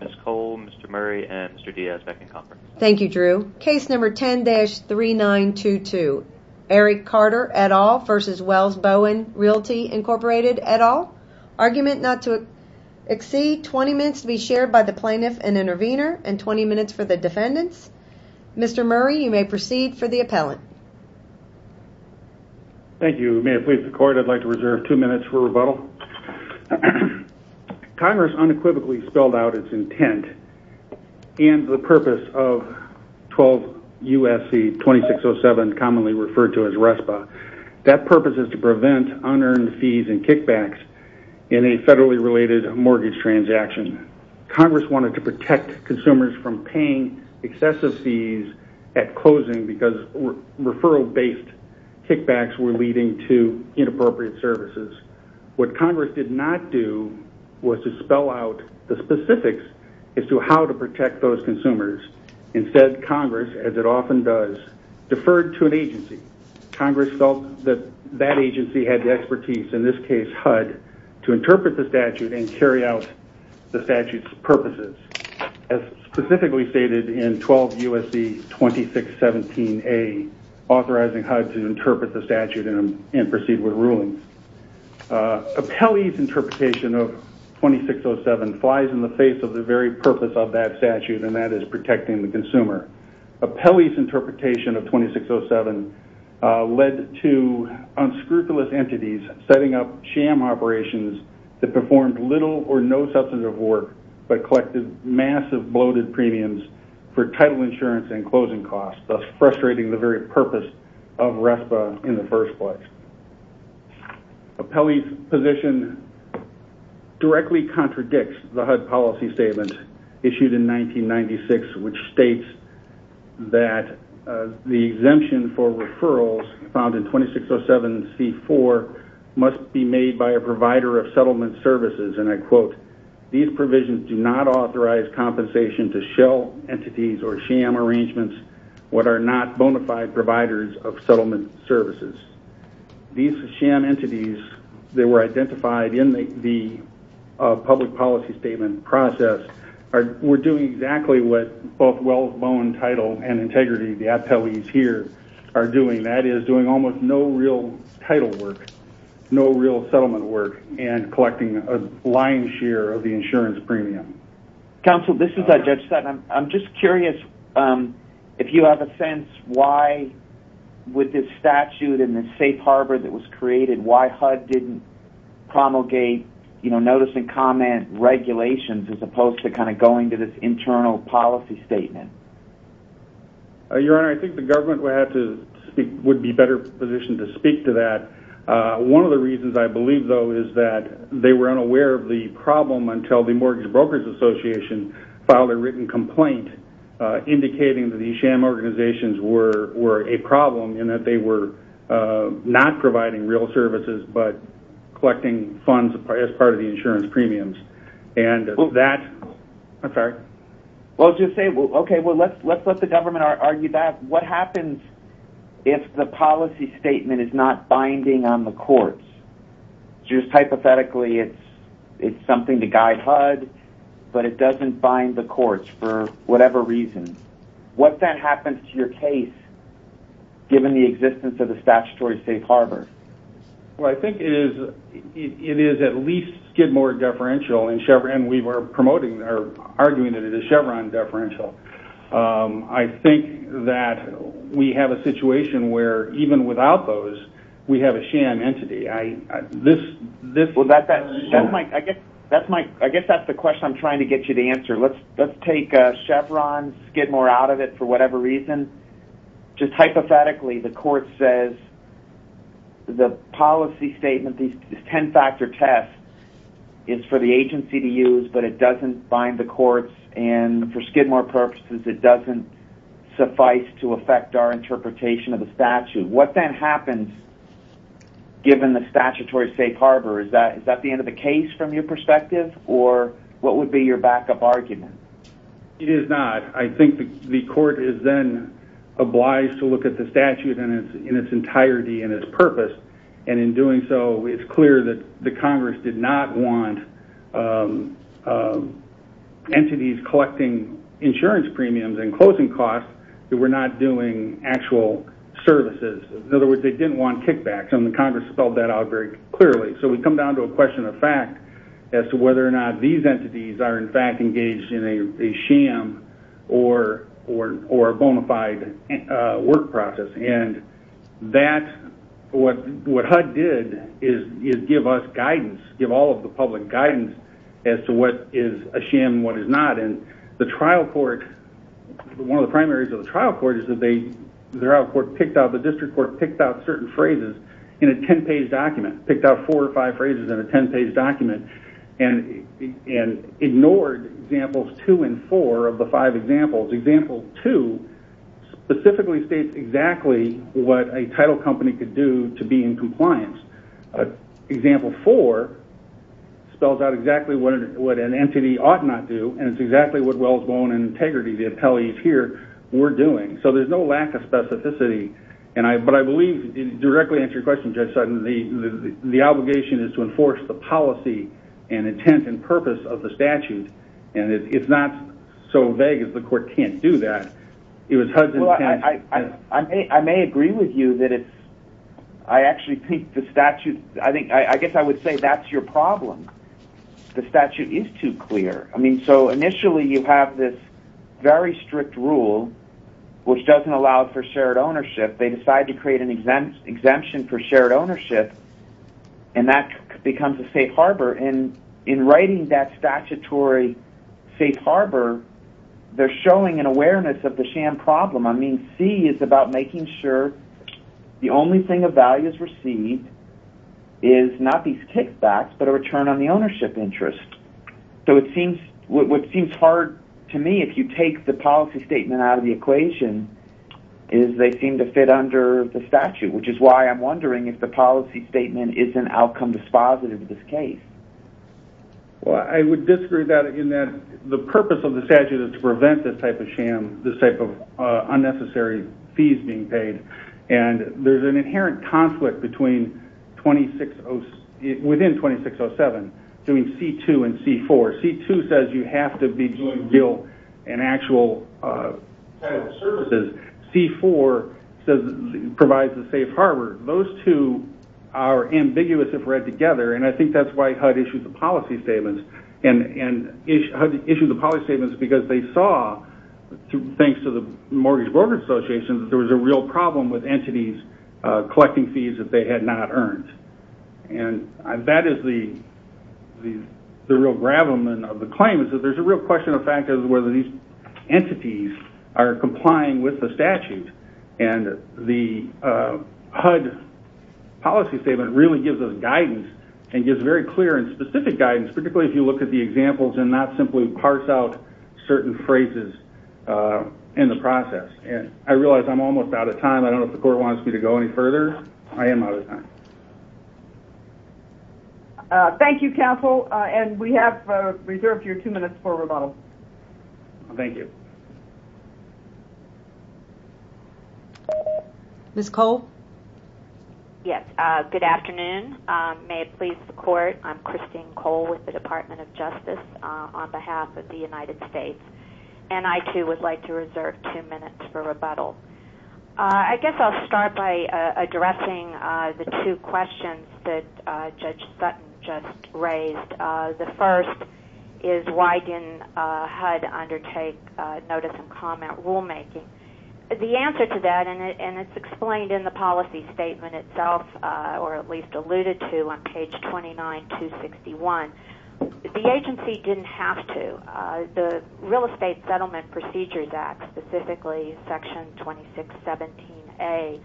Mr. Murray and Mr. Diaz back in conference. Thank you Drew. Case number 10-3922, Eric Carter et al. versus Welles-Bowen Realty Incorporated et al. Argument not to exceed 20 minutes to be shared by the plaintiff and intervener and 20 minutes for the defendants. Mr. Murray you may proceed for the appellant. Thank you, may I please the court I'd like to reserve two minutes for rebuttal. Congress unequivocally spelled out its intent and the purpose of 12 U.S.C. 2607 commonly referred to as RESPA. That purpose is to prevent unearned fees and kickbacks in a federally related mortgage transaction. Congress wanted to protect consumers from paying excessive fees at closing because referral based kickbacks were leading to inappropriate services. What Congress did not do was to spell out the specifics as to how to protect those consumers. Instead Congress as it often does deferred to an agency. Congress felt that that agency had the expertise in this case HUD to interpret the statute and carry out the statute's purposes. As specifically stated in 12 U.S.C. 2617A authorizing HUD to interpret the statute and proceed with rulings. Appellee's interpretation of 2607 flies in the face of the very purpose of that statute and that is protecting the consumer. Appellee's interpretation of 2607 led to unscrupulous entities setting up sham operations that performed little or no substantive work but collected massive bloated premiums for title insurance and closing costs thus frustrating the very purpose of RESPA in the first place. Appellee's position directly contradicts the HUD policy statement issued in 1996 which states that the exemption for referrals found in 2607C4 must be made by a provider of settlement services and I quote, these provisions do not authorize compensation to shell entities or sham arrangements what are not bona fide providers of settlement services. These sham entities that were identified in the public policy statement process were doing exactly what both Wellesbone Title and Integrity, the appellees here, are doing. That is doing almost no real title work, no real settlement work and collecting a lion's share of the insurance premium. Counsel, this is Judge Sutton. I'm just curious if you have a sense why with this statute and the safe harbor that was created, why HUD didn't promulgate notice and comment regulations as opposed to kind of going to this internal policy statement. Your Honor, I think the government would have to speak, would be better positioned to speak to that. One of the reasons I believe, though, is that they were unaware of the problem until the Mortgage Brokers Association filed a written complaint indicating that these sham organizations were a problem and that they were not providing real services but collecting funds as part of the insurance premiums and that I'm sorry. Well, to say, okay, well, let's let the government argue that. What happens if the policy statement is not binding on the courts? Just hypothetically, it's something to guide HUD, but it doesn't bind the courts for whatever reason. What then happens to your case given the existence of the statutory safe harbor? Well, I think it is at least Skidmore deferential and we were promoting or arguing that it is because we have a sham entity. I guess that's the question I'm trying to get you to answer. Let's take Chevron, Skidmore out of it for whatever reason. Just hypothetically, the court says the policy statement, these ten-factor test is for the agency to use, but it doesn't bind the courts and for Skidmore agencies, given the statutory safe harbor, is that the end of the case from your perspective or what would be your back-up argument? It is not. I think the court is then obliged to look at the statute in its entirety and its purpose and in doing so, it's clear that the Congress did not want entities collecting insurance premiums and closing costs that were not doing actual services. In other words, they didn't want kickbacks and the Congress spelled that out very clearly. So we come down to a question of fact as to whether or not these entities are in fact engaged in a sham or a bona fide work process. What HUD did is give us guidance, give all of the public guidance as to what is a sham and what is not. One of the primaries of the trial court is that the district court picked out certain phrases in a ten-page document. Picked out four or five phrases in a ten-page document and ignored examples 2 and 4 of the five examples. Example 2 specifically states exactly what a title company could do to be in compliance. Example 4 spells out exactly what an entity ought not do and it's exactly what Wells did. So there's no lack of specificity. But I believe directly to your question, the obligation is to enforce the policy and intent and purpose of the statute and it's not so vague that the court can't do that. It was HUD's intent. I may agree with you that I actually think the statute, I guess I would say that's your problem. The statute is too clear. So initially you have this very strict rule which doesn't allow for shared ownership. They decide to create an exemption for shared ownership and that becomes a safe harbor. In writing that statutory safe harbor, they're showing an awareness of the sham problem. I mean, C is about making sure the only thing of value is received is not these kickbacks but a return on the ownership interest. So what seems hard to me, if you take the policy statement out of the equation, is they seem to fit under the statute, which is why I'm wondering if the policy statement is an outcome dispositive of this case. Well, I would disagree in that the purpose of the statute is to prevent this type of sham, this type of unnecessary fees being paid. And there's an inherent conflict within 2607 between C2 and C4. C2 says you have to be doing real and actual services. C4 provides a safe harbor. Those two are ambiguous if read together and I think that's why HUD issued the policy statements. And HUD issued the policy statements because they saw, thanks to the Mortgage Brokers Association, that there was a real problem with entities collecting fees that they had not earned. And that is the real gravamen of the claim, is that there's a real question of fact of whether these entities are complying with the statute. And the HUD policy statement really gives us guidance and gives very clear and specific guidance, particularly if you look at the examples and not simply parse out certain phrases in the process. I realize I'm almost out of time. I don't know if the court wants me to go any further. I am out of time. Thank you, counsel. And we have reserved your two minutes for rebuttal. Thank you. Ms. Cole? Yes. Good afternoon. May it please the court, I'm Christine Cole with the Department of Justice for rebuttal. I guess I'll start by addressing the two questions that Judge Sutton just raised. The first is why didn't HUD undertake notice and comment rulemaking? The answer to that, and it's explained in the policy statement itself, or at least alluded to on page 29261, the agency didn't have to. The Real Estate Settlement Procedures Act specifically, Section 2617A,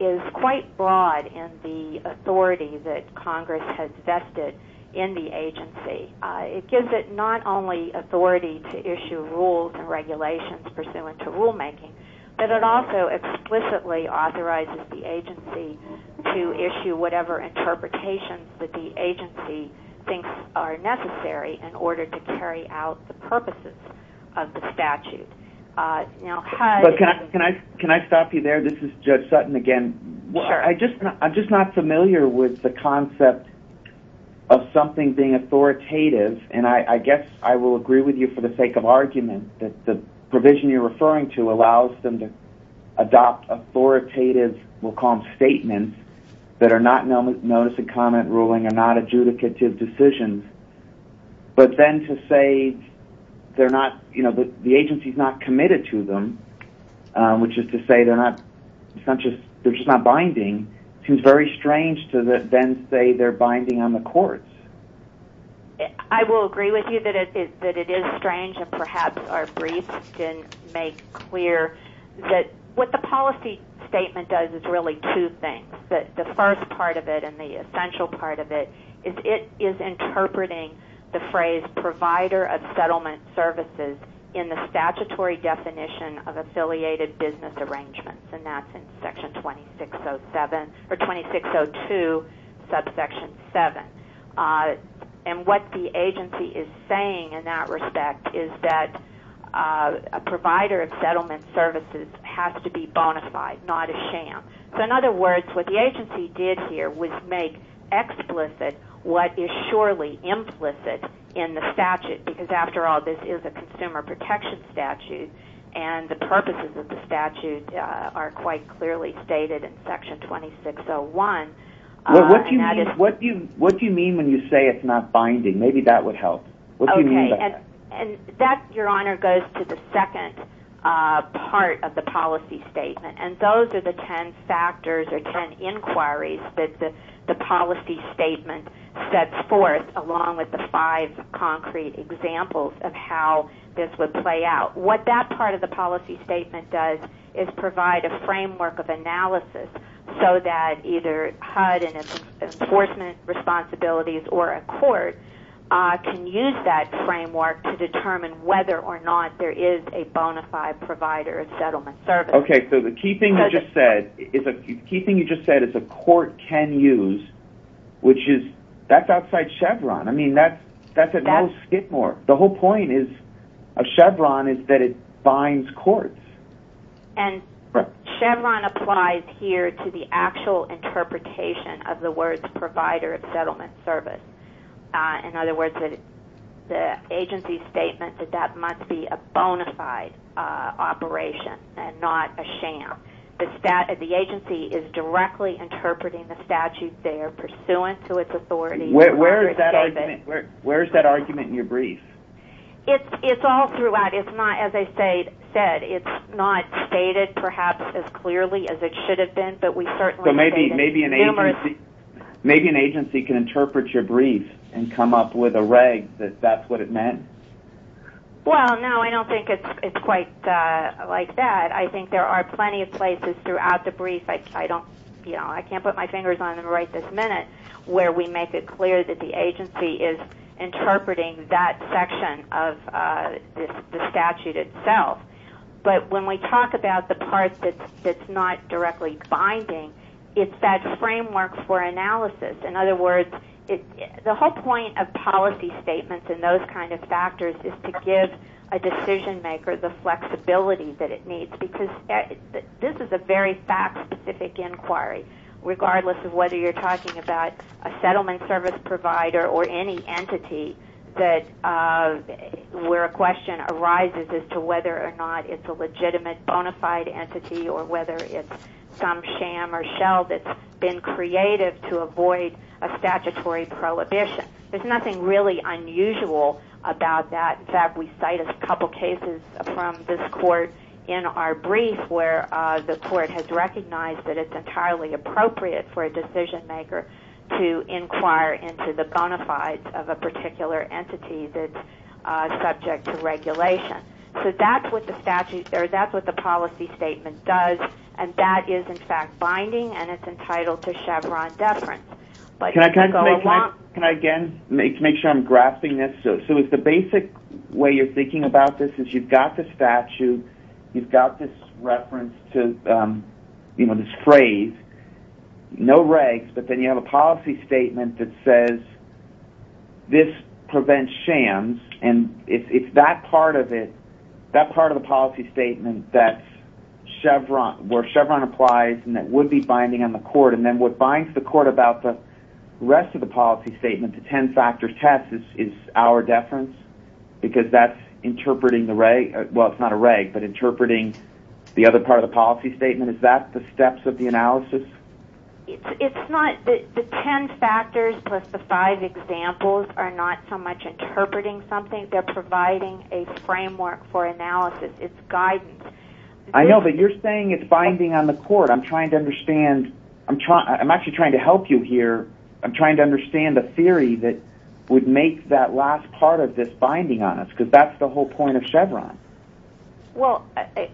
is quite broad in the authority that Congress has vested in the agency. It gives it not only authority to issue rules and regulations pursuant to rulemaking, but it also explicitly authorizes the agency to issue whatever interpretations that the agency thinks are necessary in order to carry out the purposes of the statute. But can I stop you there? This is Judge Sutton again. I'm just not familiar with the concept of something being authoritative, and I guess I will agree with you for the sake of argument that the provision you're referring to allows them to adopt authoritative, we'll call them statements, that are not notice and comment ruling, are not adjudicative decisions. But then to say they're not, you know, the agency's not committed to them, which is to say they're not, it's not just, they're just not binding, seems very strange to then say they're binding on the courts. I will agree with you that it is strange, and perhaps our briefs didn't make clear that what the policy statement does is really two things. The first part of it, and the essential part of it, is it is interpreting the phrase provider of settlement services in the statutory definition of affiliated business arrangements, and that's in Section 2602, subsection 7. And what the agency is saying in that respect is that a provider of settlement services has to be bona fide, not a sham. So in other words, what the agency did here was make explicit what is surely implicit in the statute, because after all, this is a consumer protection statute, and the purposes of the statute are quite clearly stated in Section 2601. What do you mean when you say it's not binding? Maybe that would help. Okay, and that, Your Honor, goes to the second part of the policy statement, and those are the ten factors or ten inquiries that the policy statement sets forth, along with the five concrete examples of how this would play out. What that part of the policy statement does is provide a framework of analysis so that either HUD and its enforcement responsibilities or a court can use that framework to determine whether or not there is a bona fide provider of settlement service. Okay, so the key thing you just said is a court can use, which is that's outside Chevron. I mean, that's at no skid more. The whole point of Chevron is that it binds courts. And Chevron applies here to the actual interpretation of the words provider of settlement service. In other words, the agency's statement that that must be a provision and not a sham. The agency is directly interpreting the statute there pursuant to its authority. Where is that argument in your brief? It's all throughout. As I said, it's not stated perhaps as clearly as it should have been, but we certainly stated numerous... Maybe an agency can interpret your brief and come up with a reg that that's what it meant. Well, no, I don't think it's quite like that. I think there are plenty of places throughout the brief. I can't put my fingers on them right this minute where we make it clear that the agency is interpreting that section of the statute itself. But when we talk about the part that's not directly binding, it's that framework for analysis. In other words, the whole point of policy statements and those kind of factors is to give a decision maker the flexibility that it needs because this is a very fact-specific inquiry regardless of whether you're talking about a settlement service provider or any entity where a question arises as to whether or not it's a legitimate bona fide entity or whether it's some sham or shell that's been created to avoid a statutory prohibition. There's nothing really unusual about that. In fact, we cite a couple cases from this court in our brief where the court has recognized that it's entirely appropriate for a decision maker to inquire into the bona fides of a particular entity that's subject to regulation. So that's what the policy statement does and that is in fact binding and it's entitled to Chevron deference. Can I again make sure I'm grasping this? So if the basic way you're thinking about this is you've got the statute, you've got this reference to this phrase, no regs, but then you have a policy statement that says this prevents shams and it's that part of it, that where Chevron applies and that would be binding on the court and then what binds the court about the rest of the policy statement, the ten-factor test, is our deference because that's interpreting the reg, well it's not a reg, but interpreting the other part of the policy statement. Is that the steps of the analysis? It's not. The ten factors plus the five examples are not so much interpreting something. They're providing a framework for analysis. It's guidance. I know, but you're saying it's binding on the court. I'm trying to understand, I'm actually trying to help you here. I'm trying to understand the theory that would make that last part of this binding on us because that's the whole point of Chevron. Well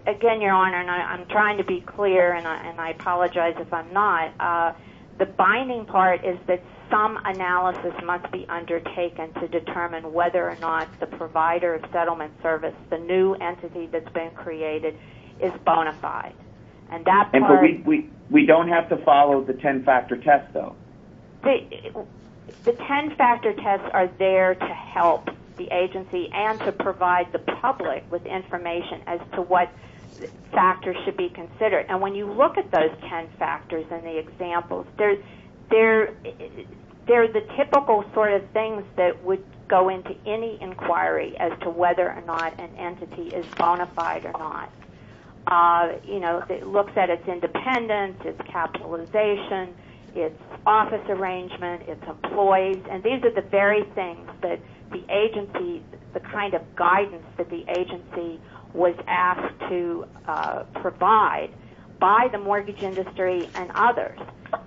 again, Your Honor, and I'm trying to be clear and I apologize if I'm not, the binding part is that some analysis must be undertaken to determine whether or not the provider of the benefit is bona fide. We don't have to follow the ten-factor test, though. The ten-factor tests are there to help the agency and to provide the public with information as to what factors should be considered. And when you look at those ten factors and the examples, they're the typical sort of things that would go into any inquiry as to whether or not an entity is bona fide or not. It looks at its independence, its capitalization, its office arrangement, its employees, and these are the very things that the agency, the kind of guidance that the agency was asked to provide by the mortgage industry and others.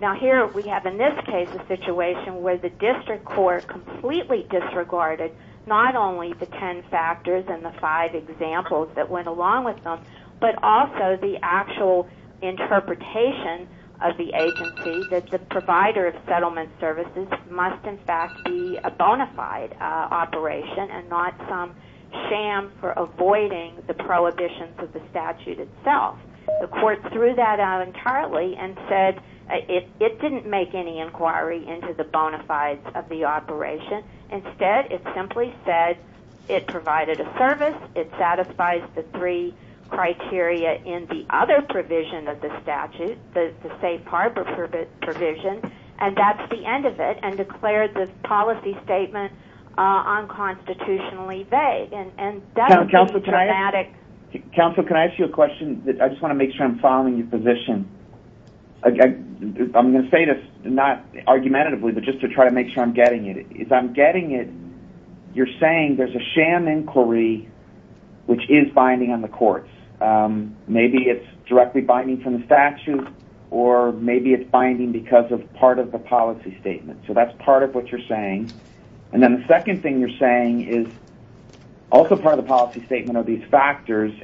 Now here we have, in this case, a situation where the district court completely disregarded not only the ten factors and the five examples that went along with them, but also the actual interpretation of the agency that the provider of settlement services must, in fact, be a bona fide operation and not some sham for avoiding the prohibitions of the statute itself. The court threw that out entirely and said it didn't make any inquiry into the bona fide operation. Instead, it simply said it provided a service, it satisfies the three criteria in the other provision of the statute, the safe harbor provision, and that's the end of it, and declared the policy statement unconstitutionally vague, and that's a dramatic... Counsel, can I ask you a question? I just want to make sure I'm following your position. I'm going to say this, not argumentatively, but just to try to make sure I'm getting it. If I'm getting it, you're saying there's a sham inquiry which is binding on the courts. Maybe it's directly binding from the statute, or maybe it's binding because of part of the policy statement. So that's part of what you're saying. And then the second thing you're saying is also part of the policy statement are these guidance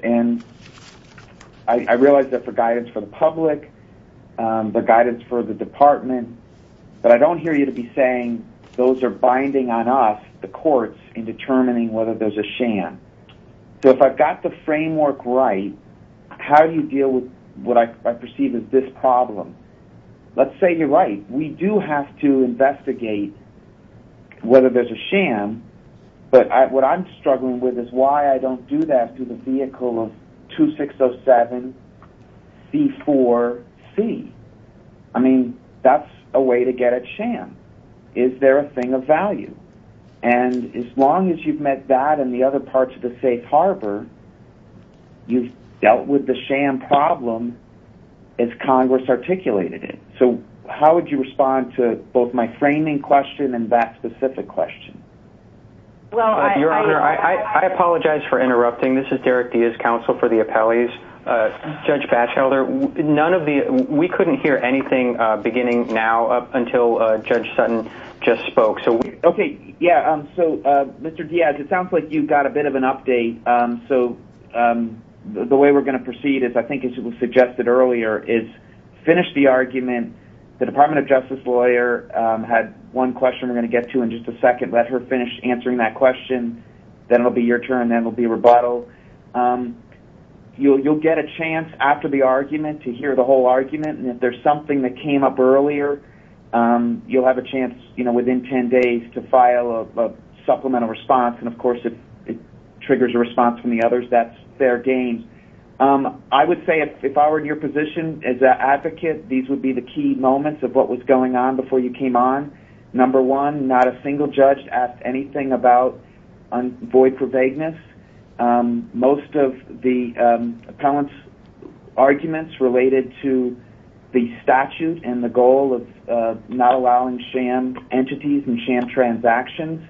for the department, but I don't hear you to be saying those are binding on us, the courts, in determining whether there's a sham. So if I've got the framework right, how do you deal with what I perceive as this problem? Let's say you're right. We do have to investigate whether there's a sham, but what I'm struggling with is why I don't do that through the vehicle of 2607C4C. I mean, that's a way to get at sham. Is there a thing of value? And as long as you've met that and the other parts of the safe harbor, you've dealt with the sham problem as Congress articulated it. So how would you respond to both my framing question and that specific question? Your Honor, I apologize for interrupting. This is Derek Diaz, counsel for the appellees. Judge Batchelder, we couldn't hear anything beginning now until Judge Sutton just spoke. Okay. Yeah. So Mr. Diaz, it sounds like you've got a bit of an update. So the way we're going to proceed is, I think as was suggested earlier, is finish the argument. The Department of Justice will finish answering that question. Then it'll be your turn. Then it'll be rebuttal. You'll get a chance after the argument to hear the whole argument. And if there's something that came up earlier, you'll have a chance, you know, within 10 days to file a supplemental response. And of course, if it triggers a response from the others, that's their game. I would say if I were in your position as an advocate, these would be the key moments of what was going on before you came on. Number one, not a single judge asked anything about void for vagueness. Most of the appellant's arguments related to the statute and the goal of not allowing sham entities and sham transactions.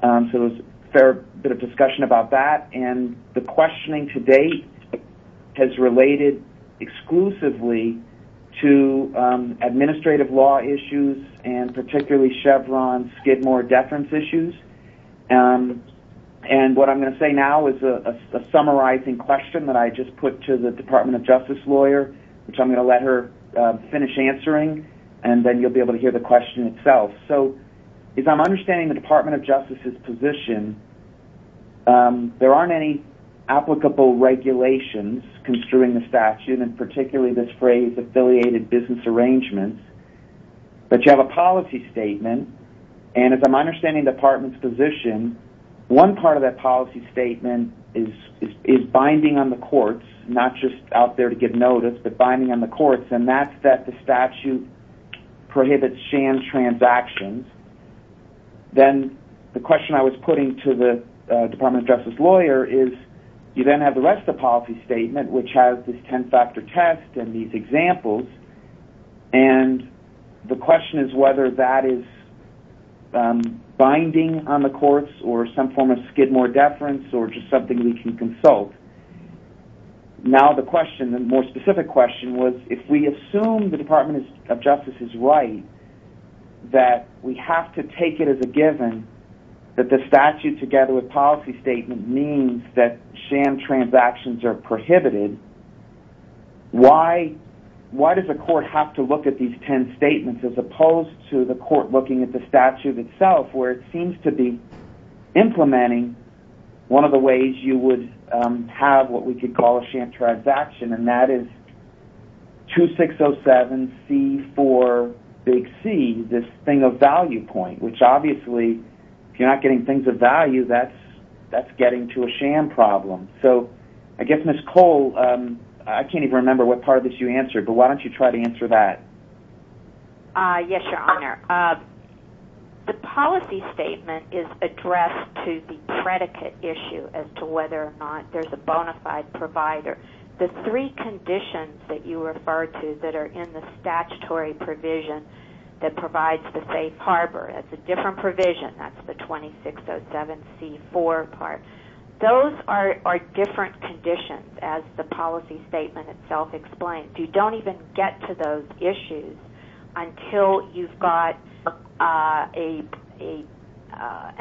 So it was a fair bit of discussion about that. And the questioning to date has related exclusively to administrative law issues and particularly Chevron Skidmore deference issues. And what I'm going to say now is a summarizing question that I just put to the Department of Justice lawyer, which I'm going to let her finish answering and then you'll be able to hear the question itself. So if I'm understanding the Department of Justice's position, there aren't any applicable regulations construing the statute and particularly this phrase affiliated business arrangements. But you have a policy statement. And as I'm understanding the Department's position, one part of that policy statement is binding on the courts, not just out there to give notice, but binding on the courts. And that's that the statute prohibits sham transactions. Then the question I was putting to the Department of Justice lawyer is you then have the rest of the policy statement, which has this ten-factor test and these examples. And the question is whether that is binding on the courts or some form of Skidmore deference or just something we can consult. Now the specific question was if we assume the Department of Justice is right that we have to take it as a given that the statute together with policy statement means that sham transactions are prohibited, why does the court have to look at these ten statements as opposed to the court looking at the statute itself where it seems to be implementing one of the ways you would have what we could call a sham transaction, and that is 2607C4C, this thing of value point, which obviously if you're not getting things of value, that's getting to a sham problem. So I guess, Ms. Cole, I can't even remember what part of this you answered, but why don't you try to answer that? Yes, Your Honor. The policy statement is addressed to the predicate issue as to whether or not there's a bona fide provider. The three conditions that you refer to that are in the statutory provision that provides the safe harbor, that's a different provision, that's the 2607C4 part, those are different conditions as the policy statement itself explains. You don't even get to those issues until you've got an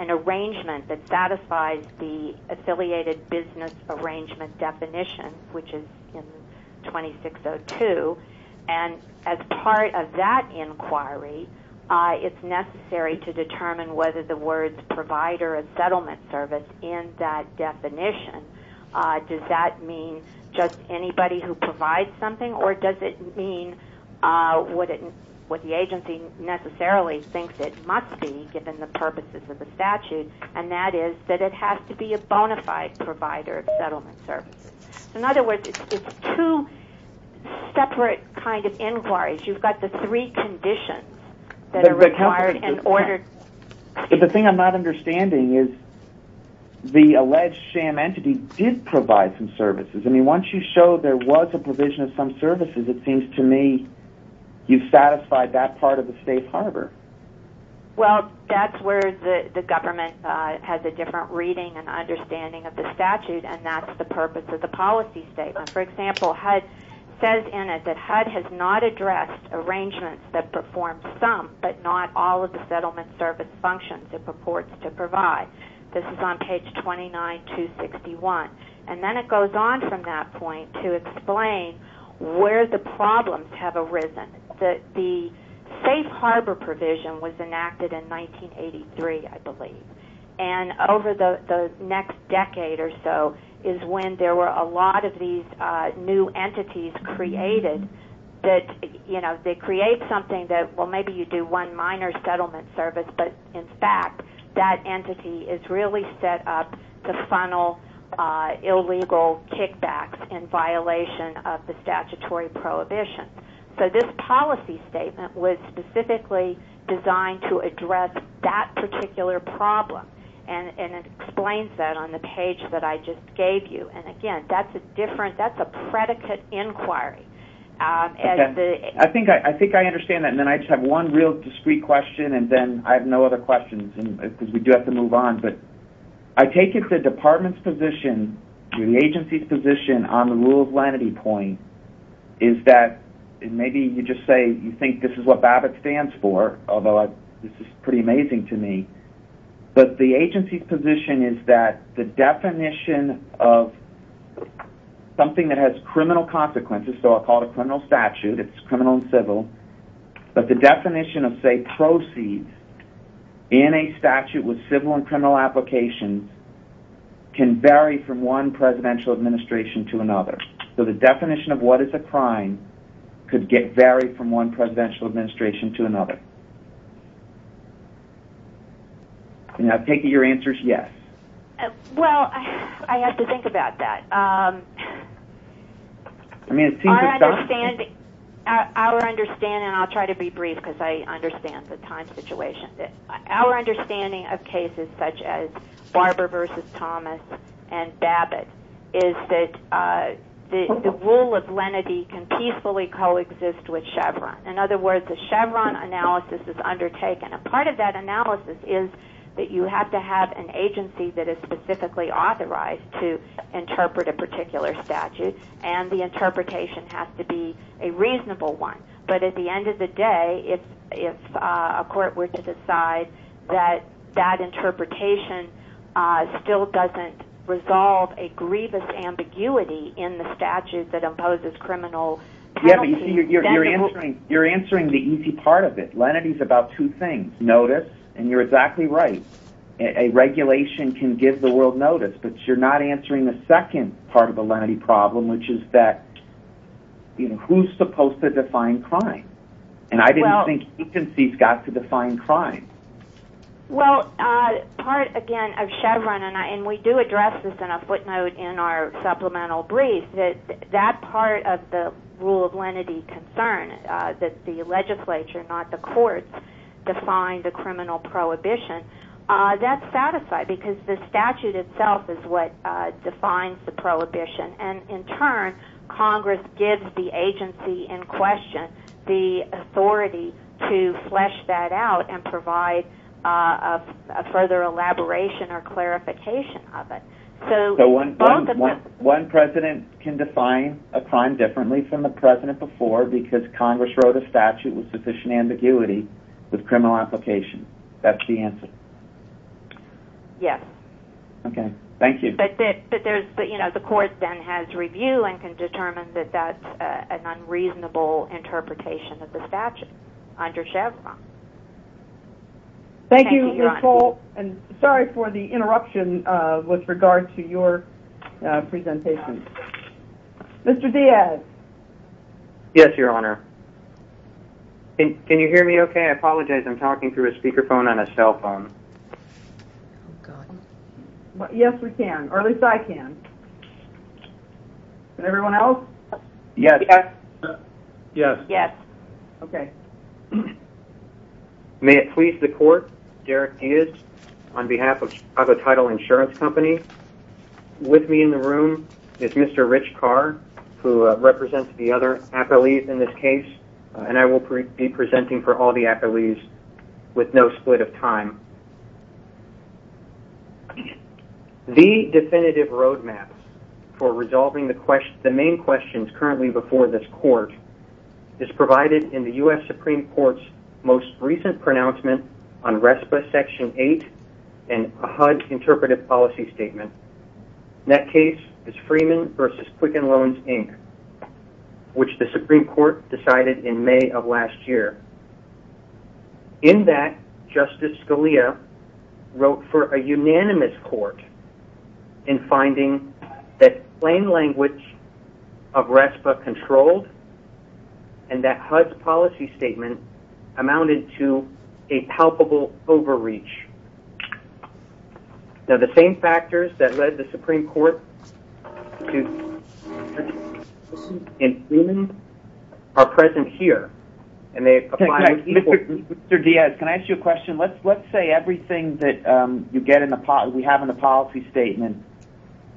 arrangement that satisfies the affiliated business arrangement definition, which is in 2602, and as part of that inquiry, it's necessary to determine whether the words provider and settlement service in that definition, does that mean just anybody who provides something, or does it mean what the agency necessarily thinks it must be given the purposes of the statute, and that is that it has to be a bona fide provider of settlement services. In other words, it's two separate kind of inquiries. You've got the three conditions that are required and ordered. But the thing I'm not understanding is the alleged sham entity did provide some services. I mean, once you show there was a provision of some services, it seems to me you've satisfied that part of the safe harbor. Well, that's where the government has a different reading and understanding of the statute, and that's the purpose of the policy statement. For example, HUD says in it that HUD has not functions it purports to provide. This is on page 29261. And then it goes on from that point to explain where the problems have arisen. The safe harbor provision was enacted in 1983, I believe, and over the next decade or so is when there were a lot of these new entities created that, you know, they create something that, well, maybe you do one minor settlement service, but in fact that entity is really set up to funnel illegal kickbacks in violation of the statutory prohibition. So this policy statement was specifically designed to address that particular problem, and it explains that on the page that I just gave you. And again, that's a different, that's a predicate inquiry. Okay. I think I understand that, and then I just have one real discreet question, and then I have no other questions because we do have to move on. But I take it the department's position, the agency's position on the rule of lenity point is that, and maybe you just say you think this is what BABBIT stands for, although this is pretty amazing to me, but the agency's position is that the definition of something that has criminal consequences, so I'll call it a criminal statute, it's criminal and civil, but the definition of, say, proceeds in a statute with civil and criminal applications can vary from one presidential administration to another. So the definition of what is a crime could vary from one presidential administration to another. And I take it your answer is yes. Well, I have to think about that. Our understanding, and I'll try to be brief because I understand the time situation, our understanding of cases such as Barber v. Thomas and BABBIT is that the rule of lenity can peacefully coexist with Chevron. In other words, a Chevron analysis is undertaken, and part of that analysis is that you have to have an agency that is specifically authorized to interpret a particular statute, and the interpretation has to be a reasonable one. But at the end of the day, if a court were to decide that that interpretation still doesn't resolve a grievous ambiguity in the statute that imposes criminal penalties, then the rule... Yeah, but you see, you're answering the easy part of it. Lenity's about two things, notice, and you're exactly right. A regulation can give the world notice, but you're not answering the second part of the lenity problem, which is that who's supposed to define crime? And I didn't think agencies got to define crime. Well, part, again, of Chevron, and we do address this in a footnote in our supplemental brief, that that part of the rule of lenity concern, that the legislature, not the courts, define the criminal prohibition, that's satisfied because the statute itself is what defines the prohibition. And in turn, Congress gives the agency in question the authority to flesh that out and provide further elaboration or clarification of it. So one president can define a crime differently from the president before because Congress wrote a statute with sufficient ambiguity with criminal application. That's the answer. Yes. Okay, thank you. But there's, you know, the court then has review and can determine that that's an unreasonable interpretation of the statute under Chevron. Thank you, Ms. Holt, and sorry for the interruption with regard to your presentation. Mr. Diaz. Yes, Your Honor. Can you hear me okay? I apologize. I'm talking through a speakerphone on a cell phone. Yes, we can, or at least I can. Can everyone else? Yes. Yes. Yes. Okay. May it please the court, Derek Diaz, on behalf of Chicago Title Insurance Company. With me in the room is Mr. Rich Carr, who represents the other appellees in this case, and I will be presenting for all the appellees with no split of time. The definitive roadmap for resolving the main questions currently before this court is provided in the U.S. Supreme Court's most recent pronouncement on RESPA Section 8 and a HUD interpretive policy statement. That case is Freeman v. Quicken Loans, Inc., which the Supreme Court decided in May of last year. In that, Justice Scalia wrote for a unanimous court in finding that plain language of RESPA controlled and that HUD's policy statement amounted to a palpable overreach. Now, the same factors that led the Supreme Court to recommend Freeman are present here. Mr. Diaz, can I ask you a question? Let's say everything that we have in the policy statement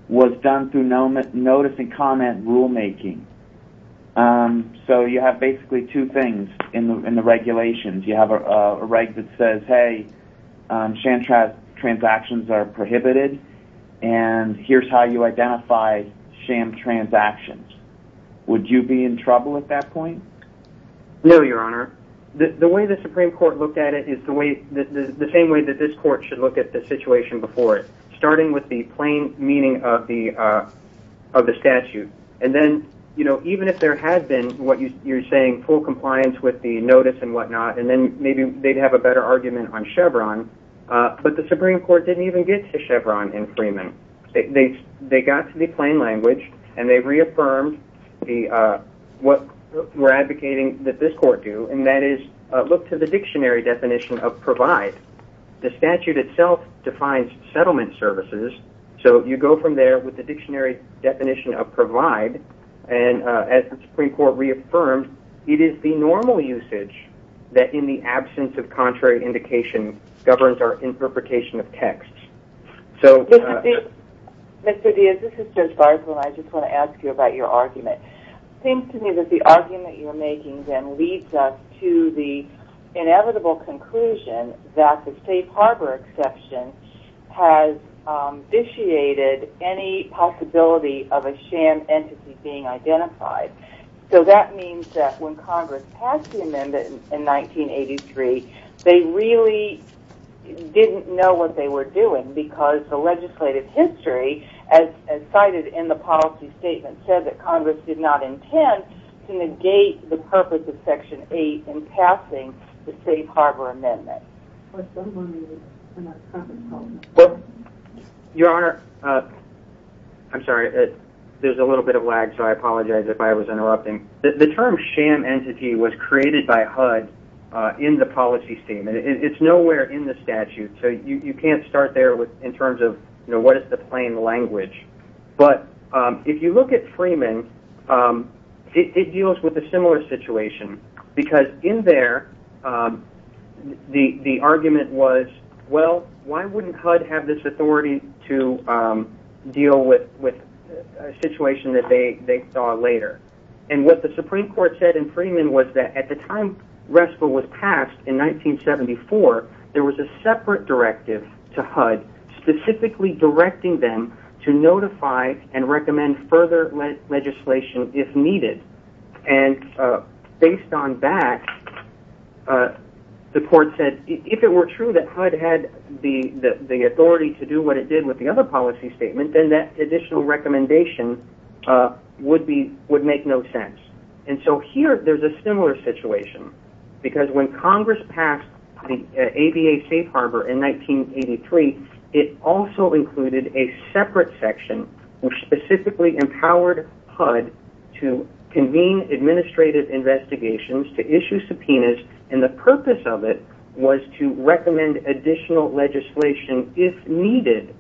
was done through notice and comment rulemaking. So you have basically two things in the regulations. You have a right that says, hey, sham transactions are prohibited, and here's how you identify sham transactions. Would you be in trouble at that point? No, Your Honor. The way the Supreme Court looked at it is the same way that this court should look at the situation before it, starting with the plain meaning of the statute and then even if there had been what you're saying, full compliance with the notice and whatnot, and then maybe they'd have a better argument on Chevron, but the Supreme Court didn't even get to Chevron in Freeman. They got to the plain language and they reaffirmed what we're advocating that this court do, and that is look to the dictionary definition of provide. The statute itself defines settlement services, so you go from there with the dictionary definition of provide, and as the Supreme Court reaffirmed, it is the normal usage that in the absence of contrary indication governs our interpretation of text. Mr. Diaz, this is Judge Garza, and I just want to ask you about your argument. It seems to me that the argument you're making then leads us to the inevitable conclusion that the safe harbor exception has vitiated any possibility of a sham entity being identified. So that means that when Congress passed the amendment in 1983, they really didn't know what they were doing because the legislative history, as cited in the policy statement, said that Congress did not intend to negate the purpose of Section 8 in passing the safe harbor amendment. Your Honor, I'm sorry. There's a little bit of lag, so I apologize if I was interrupting. The term sham entity was created by HUD in the policy statement. It's nowhere in the statute, so you can't start there in terms of what is the plain language, but if you look at Freeman, it deals with a similar situation, because in there the argument was, well, why wouldn't HUD have this authority to deal with a situation that they saw later? And what the Supreme Court said in Freeman was that at the time RESPA was passed in 1974, there was a separate directive to HUD specifically directing them to notify and recommend further legislation if needed. And based on that, the court said if it were true that HUD had the authority to do what it did with the other policy statement, then that additional recommendation would make no sense. And so here there's a similar situation, because when Congress passed the ABA safe harbor in 1983, it also included a separate section which specifically empowered HUD to convene administrative investigations, to issue subpoenas, and the purpose of it was to recommend additional legislation if needed.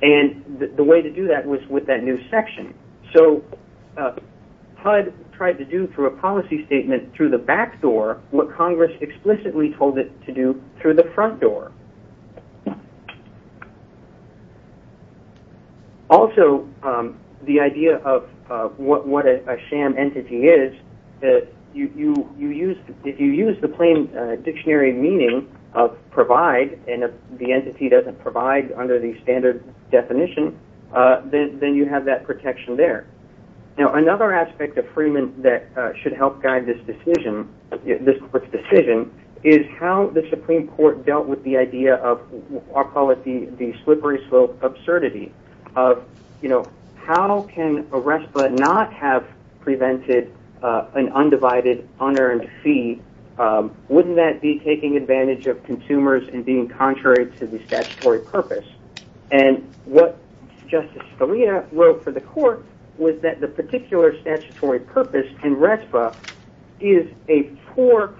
And the way to do that was with that new section. So HUD tried to do through a policy statement through the back door what Congress explicitly told it to do through the front door. Also, the idea of what a sham entity is, if you use the plain dictionary meaning of provide, and if the entity doesn't provide under the standard definition, then you have that protection there. Now, another aspect of Freeman that should help guide this decision is how the Supreme Court dealt with the idea of, I'll call it the slippery slope absurdity of how can a RESPA not have prevented an undivided, unearned fee? Wouldn't that be taking advantage of consumers and being contrary to the statutory purpose? And what Justice Scalia wrote for the court was that the particular statutory purpose in RESPA is a poor,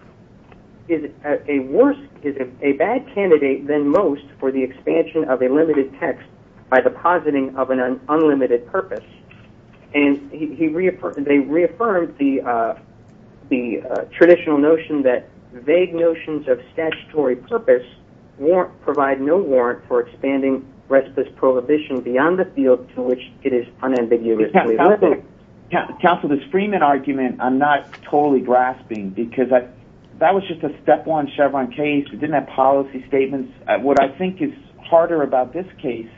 is a worse, is a bad candidate than most for the expansion of a limited text by depositing of an unlimited purpose. And they reaffirmed the traditional notion that vague notions of statutory purpose provide no warrant for expanding RESPA's prohibition beyond the field to which it is unambiguously limited. Counsel, this Freeman argument I'm not totally grasping because that was just a step one Chevron case. It didn't have policy statements. What I think is harder about this case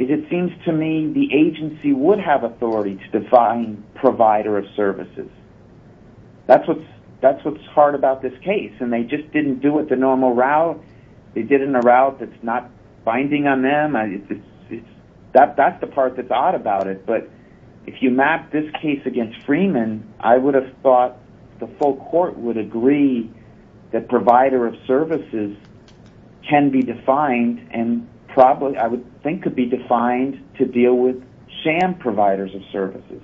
is it seems to me the agency would have authority to define provider of services. That's what's hard about this case, and they just didn't do it the normal route. They did it in a route that's not binding on them. That's the part that's odd about it, but if you map this case against Freeman, I would have thought the full court would agree that provider of services can be defined and probably I would think could be defined to deal with sham providers of services.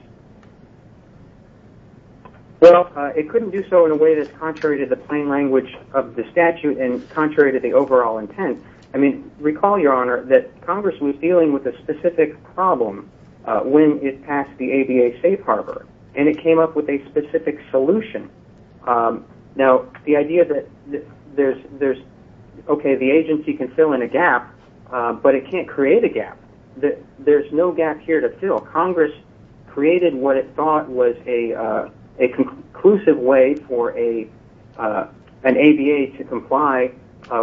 Well, it couldn't do so in a way that's contrary to the plain language of the statute and contrary to the overall intent. I mean, recall, Your Honor, that Congress was dealing with a specific problem when it passed the ABA safe harbor, and it came up with a specific solution. Now, the idea that there's, okay, the agency can fill in a gap, but it can't create a gap. There's no gap here to fill. Congress created what it thought was a conclusive way for an ABA to comply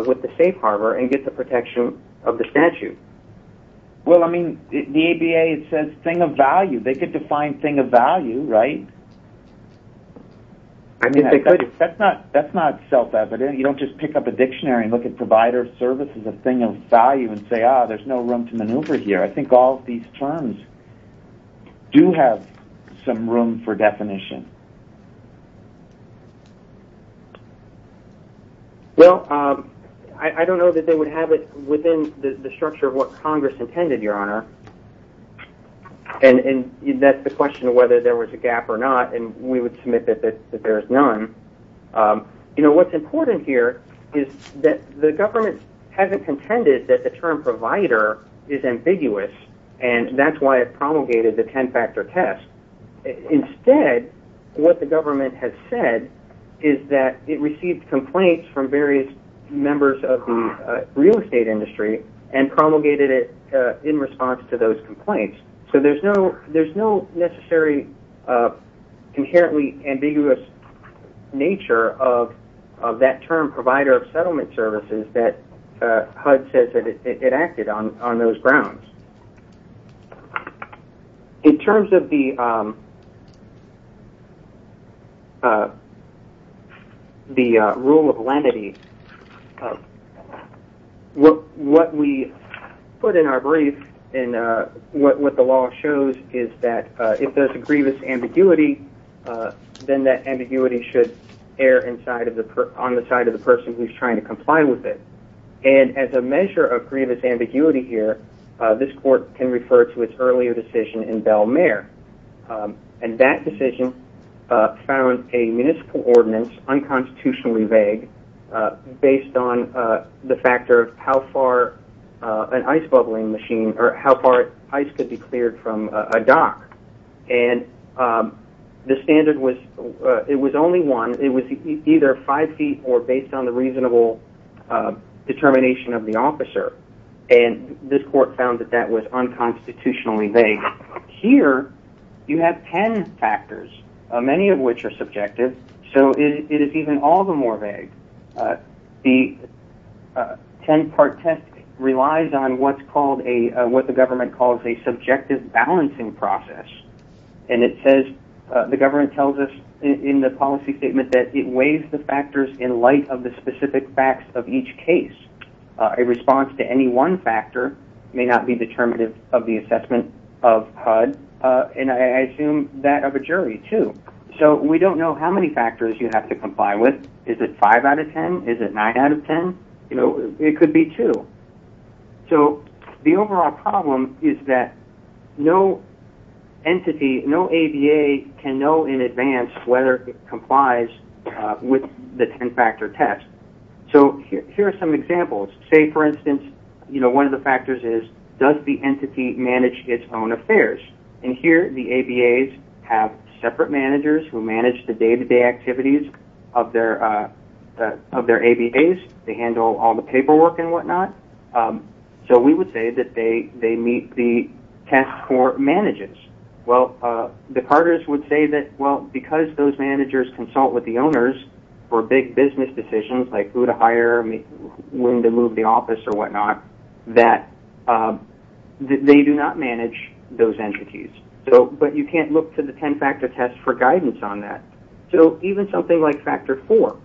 with the safe harbor and get the protection of the statute. Well, I mean, the ABA says thing of value. They could define thing of value, right? I mean, that's not self-evident. You don't just pick up a dictionary and look at provider of services as a thing of value and say, ah, there's no room to maneuver here. I think all of these terms do have some room for definition. Well, I don't know that they would have it within the structure of what Congress intended, Your Honor. And that's the question of whether there was a gap or not, and we would submit that there's none. You know, what's important here is that the government hasn't contended that the term provider is ambiguous, and that's why it promulgated the ten-factor test. Instead, what the government has said is that it received complaints from various members of the real estate industry and promulgated it in response to those complaints. So there's no necessary inherently ambiguous nature of that term provider of settlement services that HUD says it acted on on those grounds. In terms of the rule of lenity, what we put in our brief and what the law shows is that if there's a grievous ambiguity, then that ambiguity should err on the side of the person who's trying to comply with it. And as a measure of grievous ambiguity here, this court can refer to its earlier decision in Bell-Mayer. And that decision found a municipal ordinance unconstitutionally vague based on the factor of how far an ice bubbling machine or how far ice could be cleared from a dock. And the standard was it was only one. It was either five feet or based on the reasonable determination of the officer. And this court found that that was unconstitutionally vague. Here, you have ten factors, many of which are subjective. So it is even all the more vague. The ten-part test relies on what the government calls a subjective balancing process. And it says the government tells us in the policy statement that it weighs the factors in light of the specific facts of each case. A response to any one factor may not be determinative of the assessment of HUD. And I assume that of a jury, too. So we don't know how many factors you have to comply with. Is it five out of ten? Is it nine out of ten? It could be two. So the overall problem is that no entity, no ABA can know in advance whether it complies with the ten-factor test. So here are some examples. Say, for instance, one of the factors is does the entity manage its own affairs? And here, the ABAs have separate managers who manage the day-to-day activities of their ABAs. They handle all the paperwork and whatnot. So we would say that they meet the test for managers. Well, the carters would say that, well, because those managers consult with the owners for big business decisions, like who to hire, when to move the office or whatnot, that they do not manage those entities. But you can't look to the ten-factor test for guidance on that. So even something like factor four,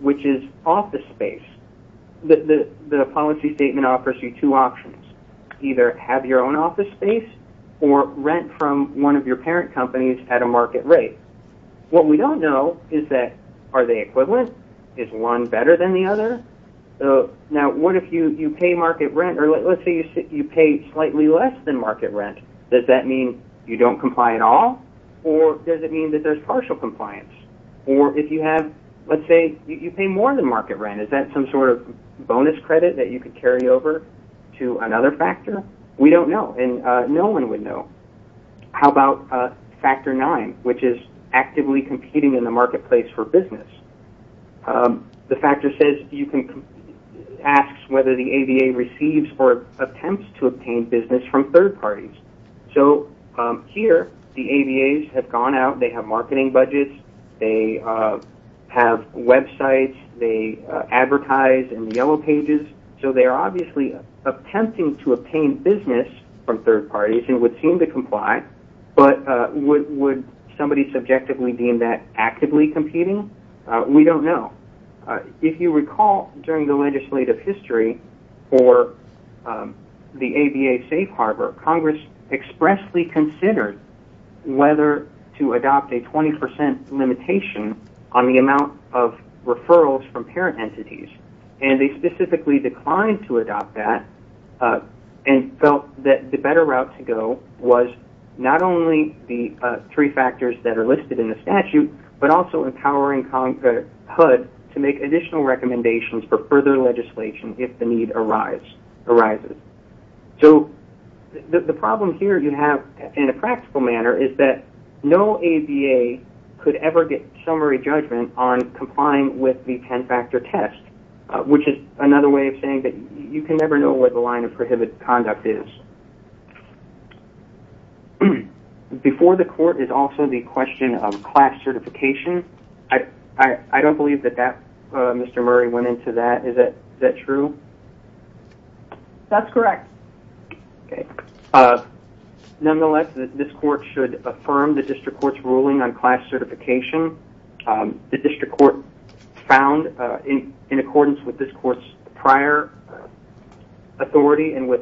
which is office space, the policy statement offers you two options. Either have your own office space or rent from one of your parent companies at a market rate. What we don't know is that are they equivalent? Is one better than the other? Now, what if you pay market rent, or let's say you pay slightly less than market rent, does that mean you don't comply at all, or does it mean that there's partial compliance? Or if you have, let's say you pay more than market rent, is that some sort of bonus credit that you could carry over to another factor? We don't know, and no one would know. How about factor nine, which is actively competing in the marketplace for business? The factor says you can ask whether the ABA receives or attempts to obtain business from third parties. So here, the ABAs have gone out. They have marketing budgets. They have websites. They advertise in the yellow pages. So they are obviously attempting to obtain business from third parties and would seem to comply, but would somebody subjectively deem that actively competing? We don't know. If you recall during the legislative history for the ABA safe harbor, Congress expressly considered whether to adopt a 20% limitation on the amount of referrals from parent entities, and they specifically declined to adopt that and felt that the better route to go was not only the three factors that are listed in the statute, but also empowering HUD to make additional recommendations for further legislation if the need arises. So the problem here you have in a practical manner is that no ABA could ever get summary judgment on complying with the ten-factor test, which is another way of saying that you can never know what the line of prohibited conduct is. Before the court is also the question of class certification. I don't believe that Mr. Murray went into that. Is that true? That's correct. Nonetheless, this court should affirm the district court's ruling on class certification. The district court found in accordance with this court's prior authority and with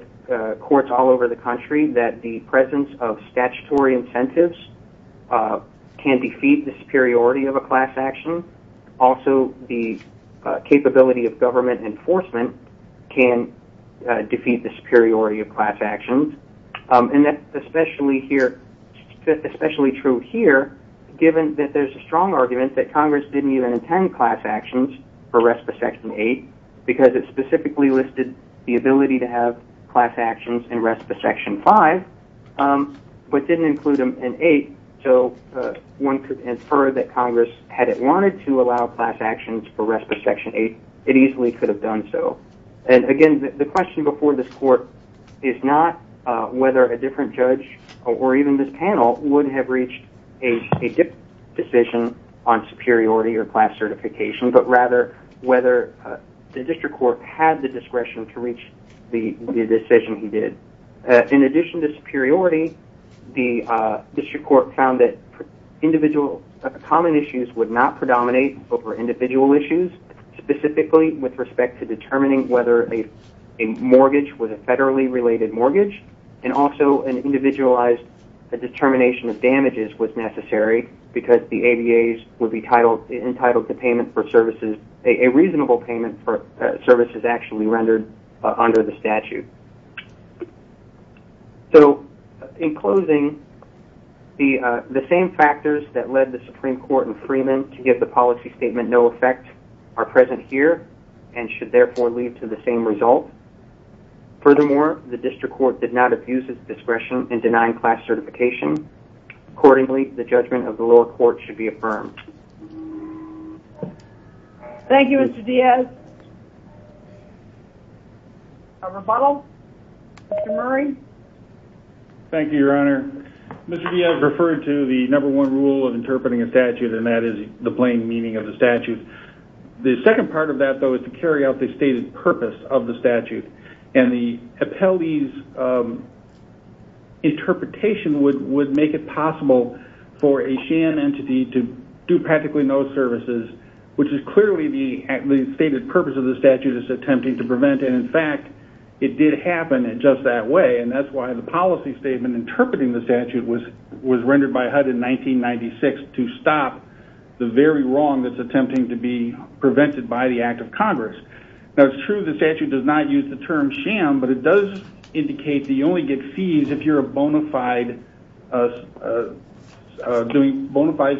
courts all over the country that the presence of statutory incentives can defeat the superiority of a class action. Also, the capability of government enforcement can defeat the superiority of class actions. And that's especially true here given that there's a strong argument that Congress didn't even intend class actions for RESPA Section 8 because it specifically listed the ability to have class actions in RESPA Section 5, but didn't include them in 8. One could infer that Congress, had it wanted to allow class actions for RESPA Section 8, it easily could have done so. Again, the question before this court is not whether a different judge or even this panel would have reached a different decision on superiority or class certification, but rather whether the district court had the discretion to reach the decision he did. In addition to superiority, the district court found that common issues would not predominate over individual issues, specifically with respect to determining whether a mortgage was a federally related mortgage and also an individualized determination of damages was necessary because the ABAs would be entitled to payment for services, a reasonable payment for services actually rendered under the statute. So, in closing, the same factors that led the Supreme Court and Freeman to give the policy statement no effect are present here and should therefore lead to the same result. Furthermore, the district court did not abuse its discretion in denying class certification. Accordingly, the judgment of the lower court should be affirmed. Thank you, Mr. Diaz. A rebuttal? Mr. Murray? Thank you, Your Honor. Mr. Diaz referred to the number one rule of interpreting a statute and that is the plain meaning of the statute. The second part of that, though, is to carry out the stated purpose of the statute and the appellee's interpretation would make it possible for a SHAM entity to do practically no services, which is clearly the stated purpose of the statute it's attempting to prevent. And, in fact, it did happen in just that way and that's why the policy statement interpreting the statute was rendered by HUD in 1996 to stop the very wrong that's attempting to be prevented by the Act of Congress. Now, it's true the statute does not use the term SHAM, but it does indicate that you only get fees if you're doing bona fide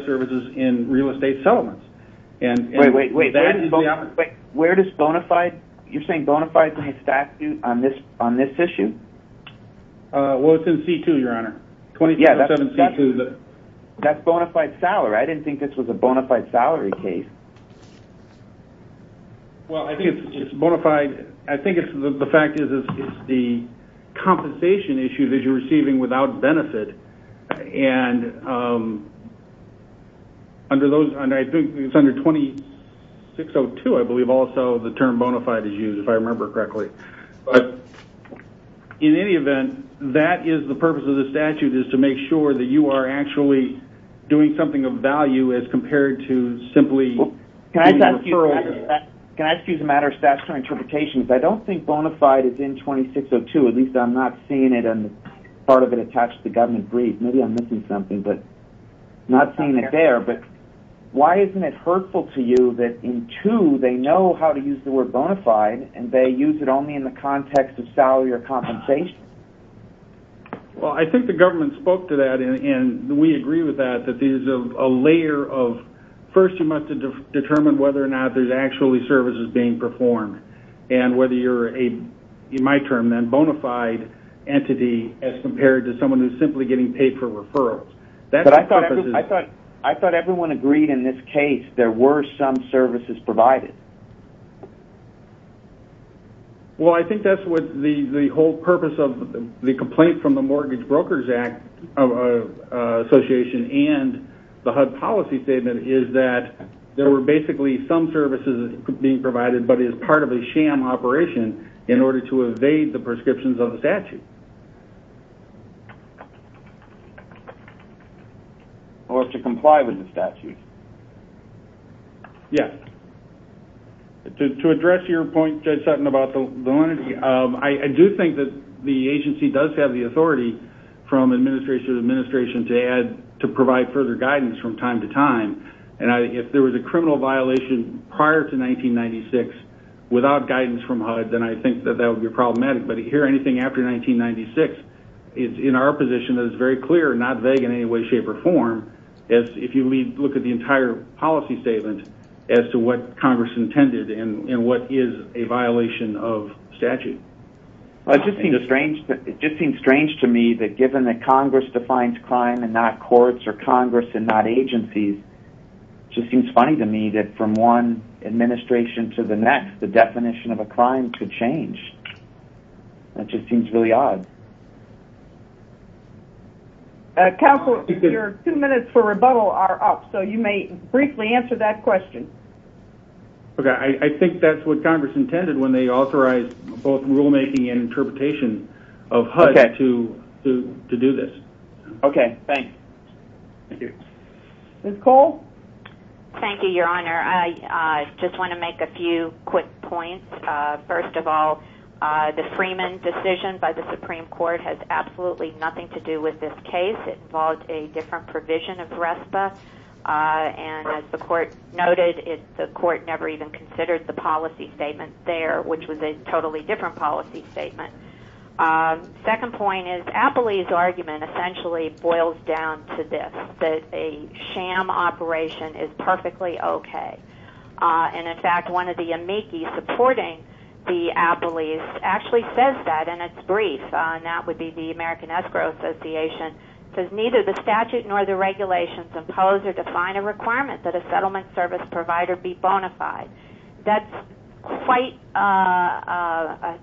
services in real estate settlements. Wait, wait, wait. Where does bona fide, you're saying bona fide statute on this issue? Well, it's in C2, Your Honor. Yeah, that's bona fide salary. I didn't think this was a bona fide salary case. Well, I think it's bona fide. I think the fact is it's the compensation issue that you're receiving without benefit. And under those, I think it's under 2602, I believe, also the term bona fide is used, if I remember correctly. But, in any event, that is the purpose of the statute, is to make sure that you are actually doing something of value as compared to simply doing a referral. Can I ask you as a matter of statutory interpretation, if I don't think bona fide is in 2602, at least I'm not seeing it and part of it attached to the government brief. Maybe I'm missing something, but I'm not seeing it there. But why isn't it hurtful to you that in C2, they know how to use the word bona fide, and they use it only in the context of salary or compensation? Well, I think the government spoke to that, and we agree with that, that there's a layer of first you must determine whether or not there's actually services being performed and whether you're a, in my term then, bona fide entity as compared to someone who's simply getting paid for referrals. But I thought everyone agreed in this case there were some services provided. Well, I think that's what the whole purpose of the complaint from the Mortgage Brokers Association and the HUD policy statement is that there were basically some services being provided, but it's part of a sham operation in order to evade the prescriptions of the statute. Or to comply with the statute. Yes. To address your point, Judge Sutton, about the lineage, I do think that the agency does have the authority from administration to administration to provide further guidance from time to time. And if there was a criminal violation prior to 1996 without guidance from HUD, then I think that that would be problematic. But here, anything after 1996, it's in our position that it's very clear and not vague in any way, shape, or form if you look at the entire policy statement as to what Congress intended and what is a violation of statute. It just seems strange to me that given that Congress defines crime and not courts or Congress and not agencies, it just seems funny to me that from one administration to the next, the definition of a crime could change. That just seems really odd. Counsel, your two minutes for rebuttal are up, so you may briefly answer that question. Okay. I think that's what Congress intended when they authorized both rulemaking and interpretation of HUD to do this. Okay. Thanks. Thank you. Ms. Cole? Thank you, Your Honor. I just want to make a few quick points. First of all, the Freeman decision by the Supreme Court has absolutely nothing to do with this case. It involved a different provision of RESPA. And as the Court noted, the Court never even considered the policy statement there, which was a totally different policy statement. The second point is Appley's argument essentially boils down to this, that a sham operation is perfectly okay. And, in fact, one of the amici supporting the Appley's actually says that, and it's brief, and that would be the American Escrow Association, says neither the statute nor the regulations impose or define a requirement that a settlement service provider be bona fide. That's quite a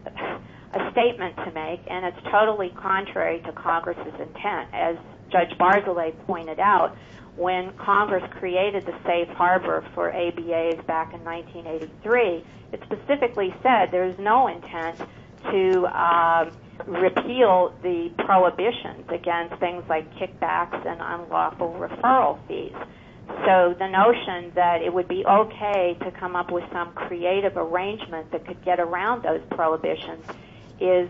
statement to make, and it's totally contrary to Congress's intent. As Judge Barzilay pointed out, when Congress created the safe harbor for ABAs back in 1983, it specifically said there is no intent to repeal the prohibitions against things like kickbacks and unlawful referral fees. So the notion that it would be okay to come up with some creative arrangement that could get around those prohibitions is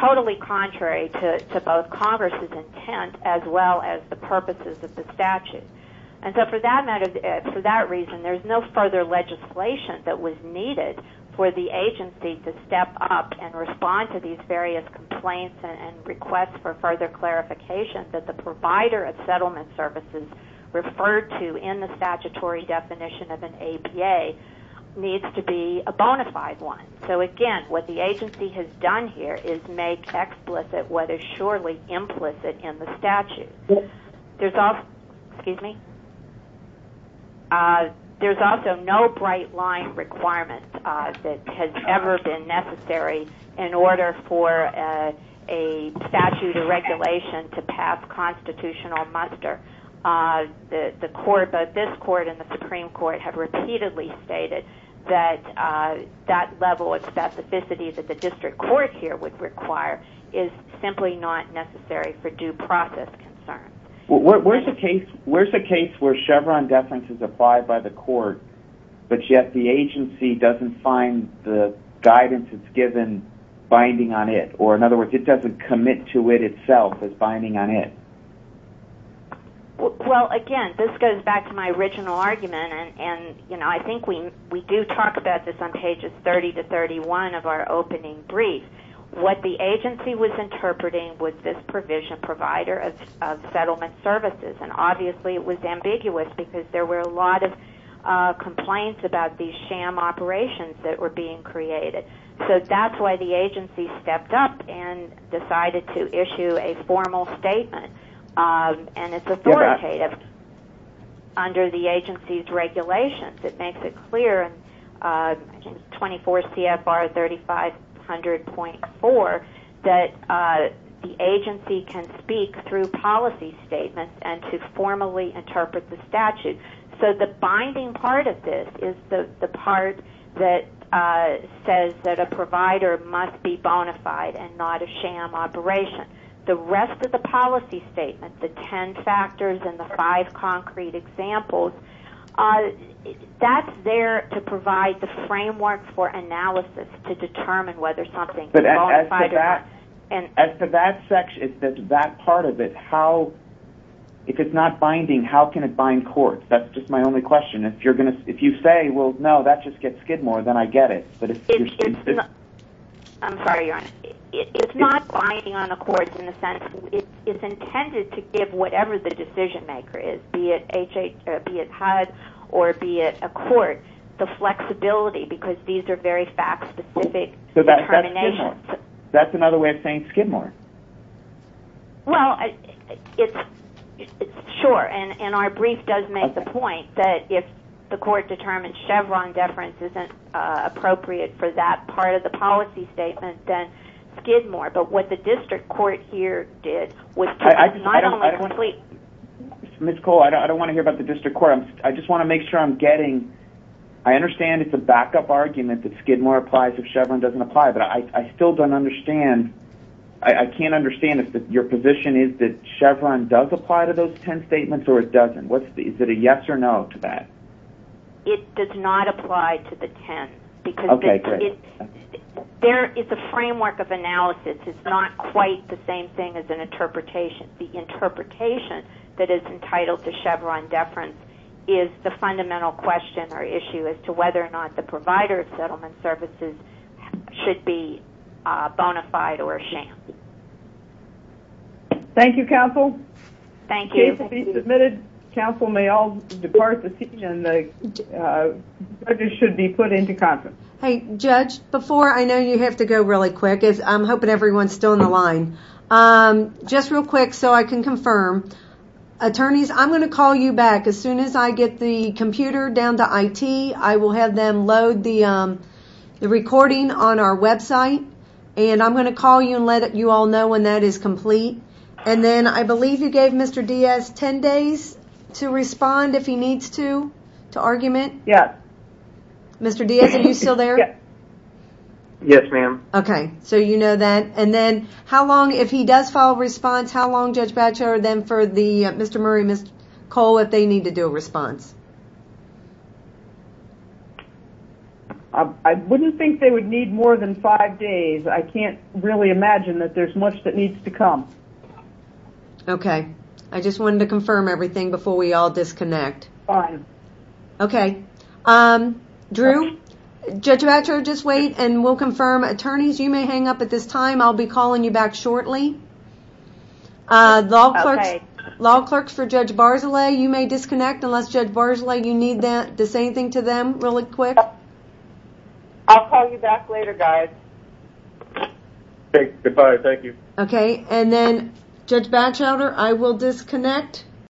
totally contrary to both Congress's intent as well as the purposes of the statute. And so for that reason, there's no further legislation that was needed for the agency to step up and respond to these various complaints and requests for further clarification that the provider of settlement services referred to in the statutory definition of an ABA needs to be a bona fide one. So, again, what the agency has done here is make explicit what is surely implicit in the statute. There's also no bright line requirement that has ever been necessary in order for a statute or regulation to pass constitutional muster. The court, both this court and the Supreme Court, have repeatedly stated that that level of specificity that the district court here would require is simply not necessary for due process concerns. Where's a case where Chevron deference is applied by the court but yet the agency doesn't find the guidance it's given binding on it? Or, in other words, it doesn't commit to it itself as binding on it? Well, again, this goes back to my original argument, and I think we do talk about this on pages 30 to 31 of our opening brief. What the agency was interpreting was this provision provider of settlement services, and obviously it was ambiguous because there were a lot of complaints about these sham operations that were being created. So that's why the agency stepped up and decided to issue a formal statement, and it's authoritative under the agency's regulations. It makes it clear in 24 CFR 3500.4 that the agency can speak through policy statements and to formally interpret the statute. So the binding part of this is the part that says that a provider must be bona fide and not a sham operation. The rest of the policy statement, the ten factors and the five concrete examples, that's there to provide the framework for analysis to determine whether something is bona fide or not. As to that part of it, if it's not binding, how can it bind courts? That's just my only question. If you say, well, no, that just gets Skidmore, then I get it. I'm sorry, Your Honor. It's not binding on the courts in the sense it's intended to give whatever the decision-maker is, be it HUD or be it a court, the flexibility because these are very fact-specific determinations. That's another way of saying Skidmore. Well, sure, and our brief does make the point that if the court determines Chevron deference isn't appropriate for that part of the policy statement, then Skidmore. But what the district court here did was not only complete... Ms. Cole, I don't want to hear about the district court. I just want to make sure I'm getting... I understand it's a backup argument that Skidmore applies if Chevron doesn't apply, but I still don't understand... I can't understand if your position is that Chevron does apply to those 10 statements or it doesn't. Is it a yes or no to that? It does not apply to the 10. Okay, good. It's a framework of analysis. It's not quite the same thing as an interpretation. The interpretation that is entitled to Chevron deference is the fundamental question or issue as to whether or not the provider of settlement services should be bona fide or a sham. Thank you, counsel. Thank you. The case will be submitted. Counsel may all depart the scene, and the judges should be put into conference. Hey, Judge, before... I know you have to go really quick. I'm hoping everyone's still on the line. Just real quick so I can confirm. Attorneys, I'm going to call you back. As soon as I get the computer down to IT, I will have them load the recording on our website, and I'm going to call you and let you all know when that is complete. And then I believe you gave Mr. Diaz 10 days to respond if he needs to, to argument. Yes. Mr. Diaz, are you still there? Yes, ma'am. Okay, so you know that. And then if he does file a response, how long, Judge Batcher, then for Mr. Murray and Ms. Cole if they need to do a response? I wouldn't think they would need more than 5 days. I can't really imagine that there's much that needs to come. Okay. I just wanted to confirm everything before we all disconnect. Fine. Okay. Drew, Judge Batcher, just wait, and we'll confirm. Attorneys, you may hang up at this time. I'll be calling you back shortly. Okay. Law clerks for Judge Barzilay, you may disconnect unless Judge Barzilay, you need the same thing to them really quick. I'll call you back later, guys. Okay. Goodbye. Thank you. Okay. And then, Judge Batchelder, I will disconnect.